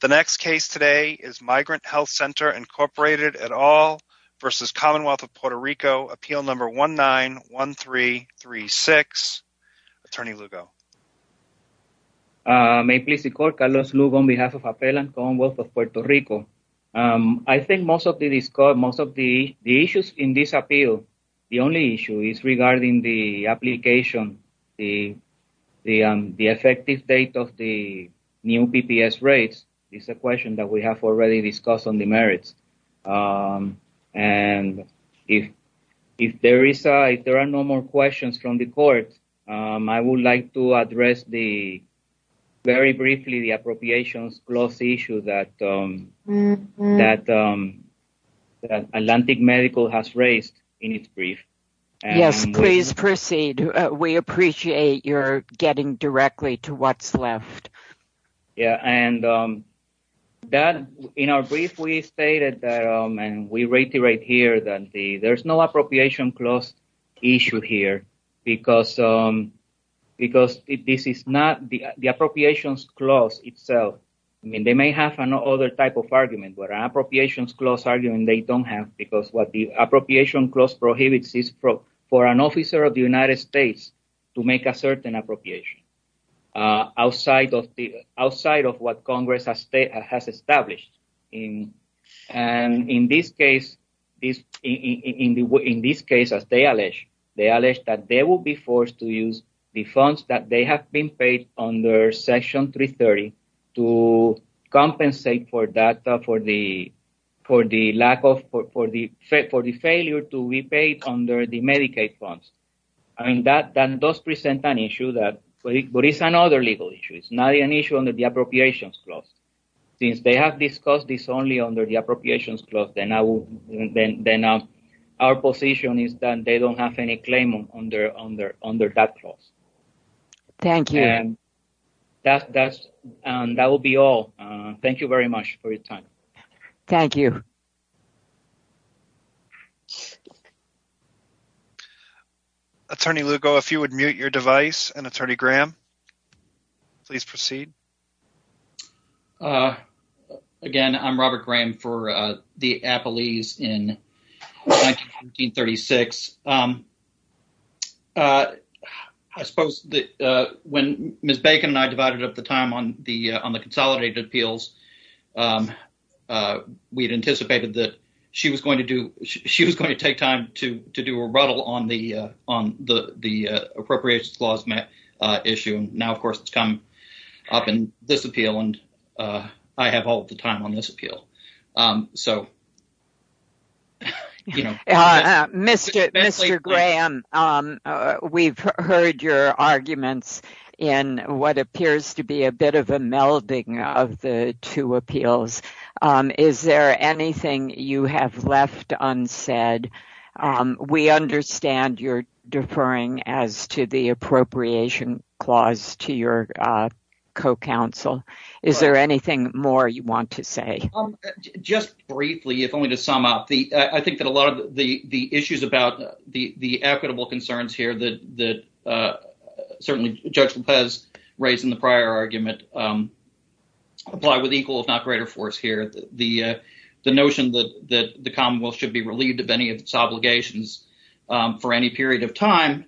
The next case today is Migrant Health Center, Inc. et al. v. Commonwealth of Puerto Rico, appeal number 191336. Attorney Lugo. May it please the court, Carlos Lugo on behalf of Appellant Commonwealth of Puerto Rico. I think most of the issues in this appeal, the only issue is regarding the application, the effective date of the new PPS rates, is a question that we have already discussed on the merits. And if there are no more questions from the court, I would like to address very briefly the appropriations clause issue that Atlantic Medical has raised in its brief. Yes, please proceed. We appreciate your getting directly to what's left. In our brief, we stated and we reiterate here that there's no appropriation clause issue here because the appropriations clause itself, they may have another type of argument, but an appropriations clause argument they don't have because what the appropriation clause prohibits is for an officer of the United States to make a certain appropriation outside of what Congress has established. And in this case, as they allege, they allege that they will be forced to use the funds that they have been paid under Section 330 to compensate for the failure to be paid under the Medicaid funds. That does present an issue, but it's another legal issue. It's not an issue under the appropriations clause. Since they have discussed this only under the appropriations clause, then our position is that they don't have any claim under that clause. Thank you. That will be all. Thank you very much for your time. Thank you. Attorney Lugo, if you would mute your device, and Attorney Graham, please proceed. Again, I'm Robert Graham for the Appellees in 1936. I suppose that when Ms. Bacon and I divided up the time on the consolidated appeals, we had anticipated that she was going to take time to do a rebuttal on the appropriations clause issue. And now, of course, it's come up in this appeal, and I have all of the time on this appeal. Mr. Graham, we've heard your arguments in what is the second hearing of the two appeals. Is there anything you have left unsaid? We understand you're deferring as to the appropriation clause to your co-counsel. Is there anything more you want to say? Just briefly, if only to sum up, I think that a lot of the issues about the equitable concerns here that certainly Judge Lopez raised in the prior argument apply with equal, if not greater, force here. The notion that the commonwealth should be relieved of any of its obligations for any period of time,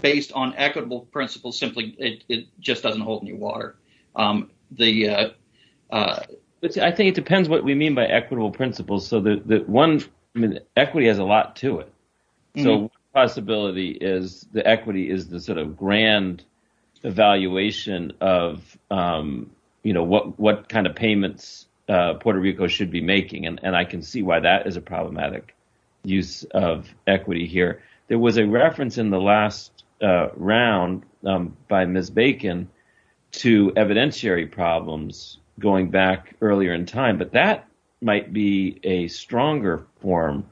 based on equitable principles, simply, it just doesn't hold any water. I think it depends what we mean by equitable principles. So one, equity has a lot to it. So one possibility is the equity is the grand evaluation of what kind of payments Puerto Rico should be making, and I can see why that is a problematic use of equity here. There was a reference in the last round by Ms. Bacon to evidentiary problems going back earlier in time, but that might be a stronger form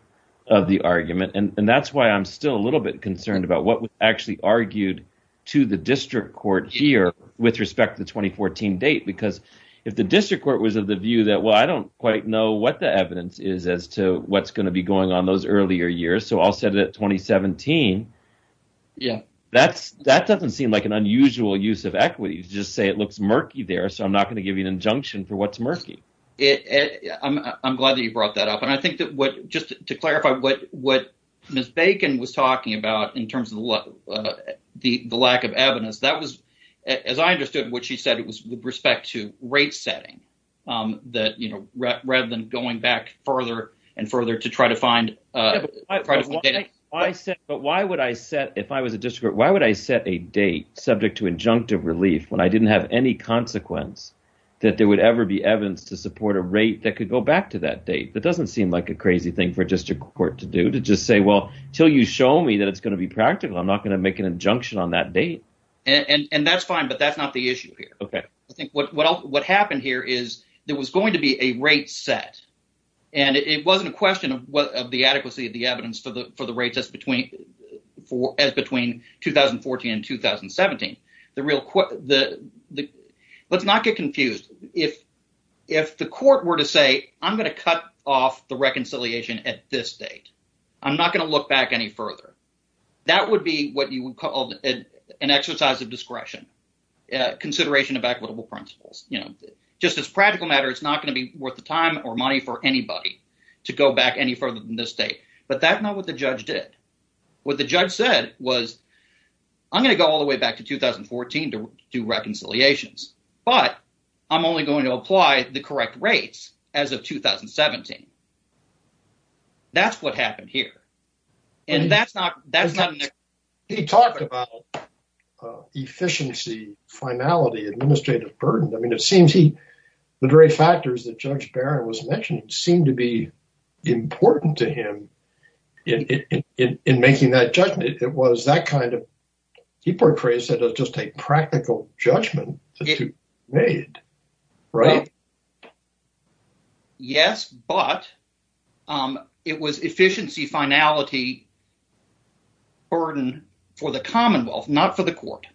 of the argument, and that's why I'm still a little bit concerned about what was actually argued to the district court here with respect to the 2014 date, because if the district court was of the view that, well, I don't quite know what the evidence is as to what's going to be going on those earlier years, so I'll set it at 2017, that doesn't seem like an unusual use of equity to just say it looks murky there, so I'm not going to give you an injunction for what's murky. I'm glad that you brought that up, and I think just to clarify what Ms. Bacon said about the lack of evidence, that was, as I understood what she said, it was with respect to rate setting that, you know, rather than going back further and further to try to find a date. But why would I set, if I was a district court, why would I set a date subject to injunctive relief when I didn't have any consequence that there would ever be evidence to support a rate that could go back to that date? That doesn't seem like a crazy thing for a district court to do, to just say, well, until you show me that it's going to be practical, I'm not going to make an injunction on that date. And that's fine, but that's not the issue here. Okay. I think what happened here is there was going to be a rate set, and it wasn't a question of the adequacy of the evidence for the rates as between 2014 and 2017. Let's not get confused, if the court were to say, I'm going to cut off the that would be what you would call an exercise of discretion, consideration of equitable principles. You know, just as a practical matter, it's not going to be worth the time or money for anybody to go back any further than this date. But that's not what the judge did. What the judge said was, I'm going to go all the way back to 2014 to do reconciliations, but I'm only going to apply the correct rates as of 2017. That's what happened here. And that's not, that's not. He talked about efficiency, finality, administrative burden. I mean, it seems he, the very factors that Judge Barron was mentioning seemed to be important to him in making that judgment. It was that kind of, he portrays it as just a practical judgment to be made, right? Yes, but. It was efficiency, finality, burden for the Commonwealth, not for the court.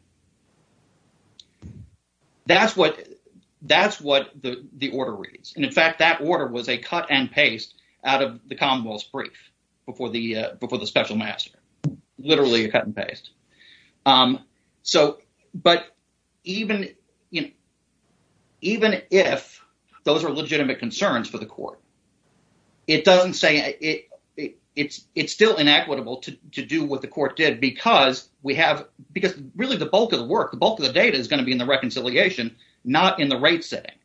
That's what, that's what the order reads. And in fact, that order was a cut and paste out of the Commonwealth's brief before the, before the special master, literally a cut and paste. So, but even, you know, even if those are legitimate concerns for the court, it doesn't say it, it's, it's still inequitable to do what the court did because we have, because really the bulk of the work, the bulk of the data is going to be in the reconciliation, not in the rate setting.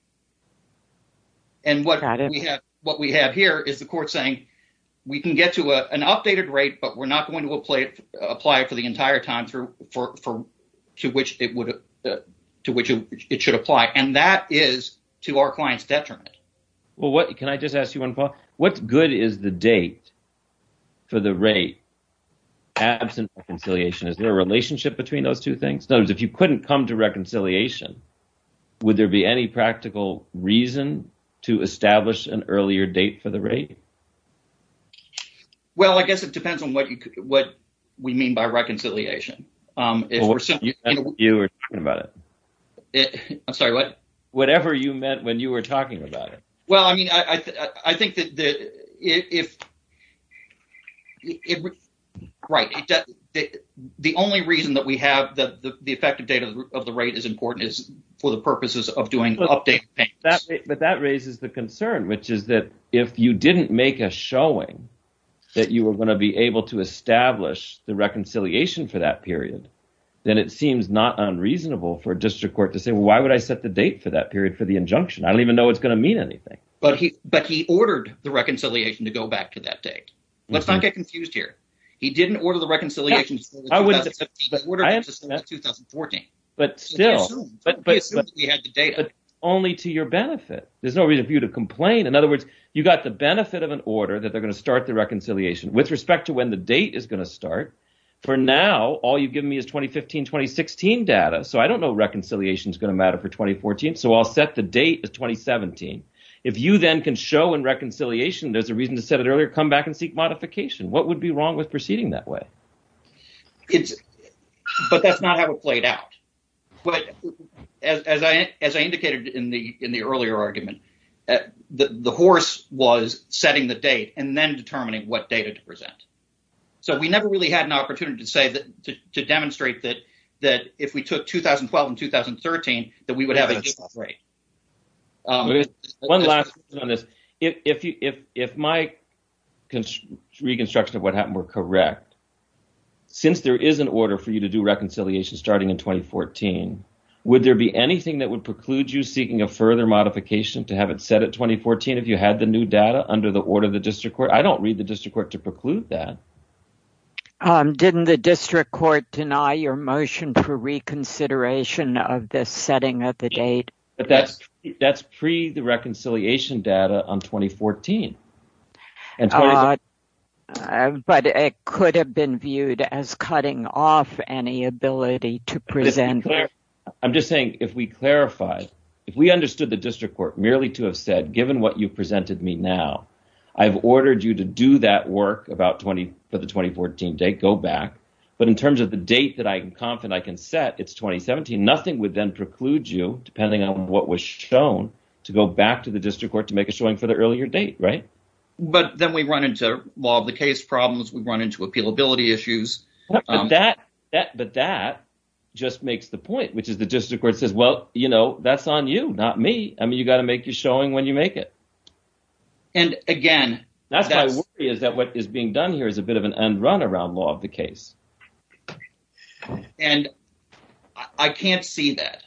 And what we have, what we have here is the court saying we can get to an updated rate, but we're not going to apply it for the entire time for, for, for, to which it would, to which it should apply. And that is to our client's detriment. Well, what, can I just ask you one, Paul? What good is the date for the rate absent reconciliation? Is there a relationship between those two things? In other words, if you couldn't come to reconciliation, would there be any practical reason to establish an earlier date for the rate? Well, I guess it depends on what you, what we mean by reconciliation. Um, if you were talking about it, I'm sorry, what, whatever you meant when you were talking about it, well, I mean, I, I, I think that the, if it, right. The only reason that we have the, the, the effective date of the rate is important is for the purposes of doing update payments, but that raises the concern, which is that if you didn't make a showing that you were going to be able to establish the reconciliation for that period, then it seems not unreasonable for district court to say, well, why would I set the date for that period for the junction? I don't even know what's going to mean anything, but he, but he ordered the reconciliation to go back to that date. Let's not get confused here. He didn't order the reconciliation, but still only to your benefit. There's no reason for you to complain. In other words, you got the benefit of an order that they're going to start the reconciliation with respect to when the date is going to start for now. All you've given me is 2015, 2016 data. So I don't know reconciliation is going to matter for 2014. So I'll set the date of 2017. If you then can show in reconciliation, there's a reason to set it earlier, come back and seek modification. What would be wrong with proceeding that way? It's, but that's not how it played out. But as I, as I indicated in the, in the earlier argument, the horse was setting the date and then determining what data to present. So we never really had an opportunity to say that, to demonstrate that, that if we took 2012 and 2013, that we would have a different rate. One last on this. If you, if, if my reconstruction of what happened were correct, since there is an order for you to do reconciliation starting in 2014, would there be anything that would preclude you seeking a further modification to have it set at 2014? If you had the new data under the order of the district court, I don't read the district court to preclude that. Um, didn't the district court deny your motion for reconsideration of this setting at the date? But that's, that's pre the reconciliation data on 2014. But it could have been viewed as cutting off any ability to present. I'm just saying, if we clarify, if we understood the district court merely to have said, given what you presented me now, I've ordered you to do that work about 20 for the 2014 date, go back. But in terms of the date that I can confident I can set it's 2017, nothing would then preclude you depending on what was shown to go back to the district court to make a showing for the earlier date. Right. But then we run into law of the case problems. We run into appealability issues. But that, that, but that just makes the point, which is the district court says, well, you know, that's on you, not me. I mean, you got to make your showing when you make it. And again, that's my worry is that what is being done here is a bit of an end run around law of the case. And I can't see that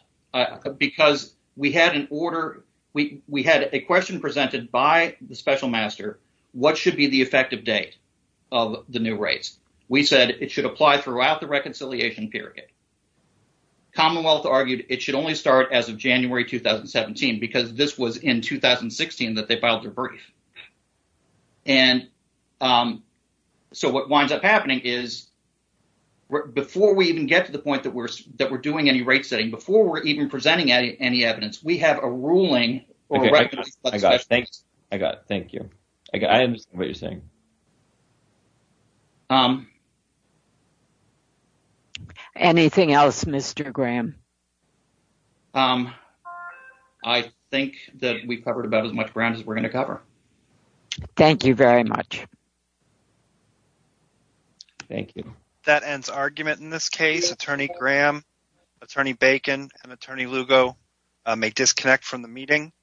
because we had an order. We, we had a question presented by the special master. What should be the effective date of the new rates? We said it should apply throughout the reconciliation period. Commonwealth argued it should only start as of January, 2017, because this was in 2016 that they filed their brief. And so what winds up happening is before we even get to the point that we're, that we're doing any rate setting before we're even presenting any, any evidence, we have a ruling. I got, thank you. I got, I understand what you're saying. Anything else, Mr. Graham? I think that we've covered about as much ground as we're going to cover. Thank you very much. Thank you. That ends argument in this case. Attorney Graham, Attorney Bacon and Attorney Lugo may disconnect from the meeting.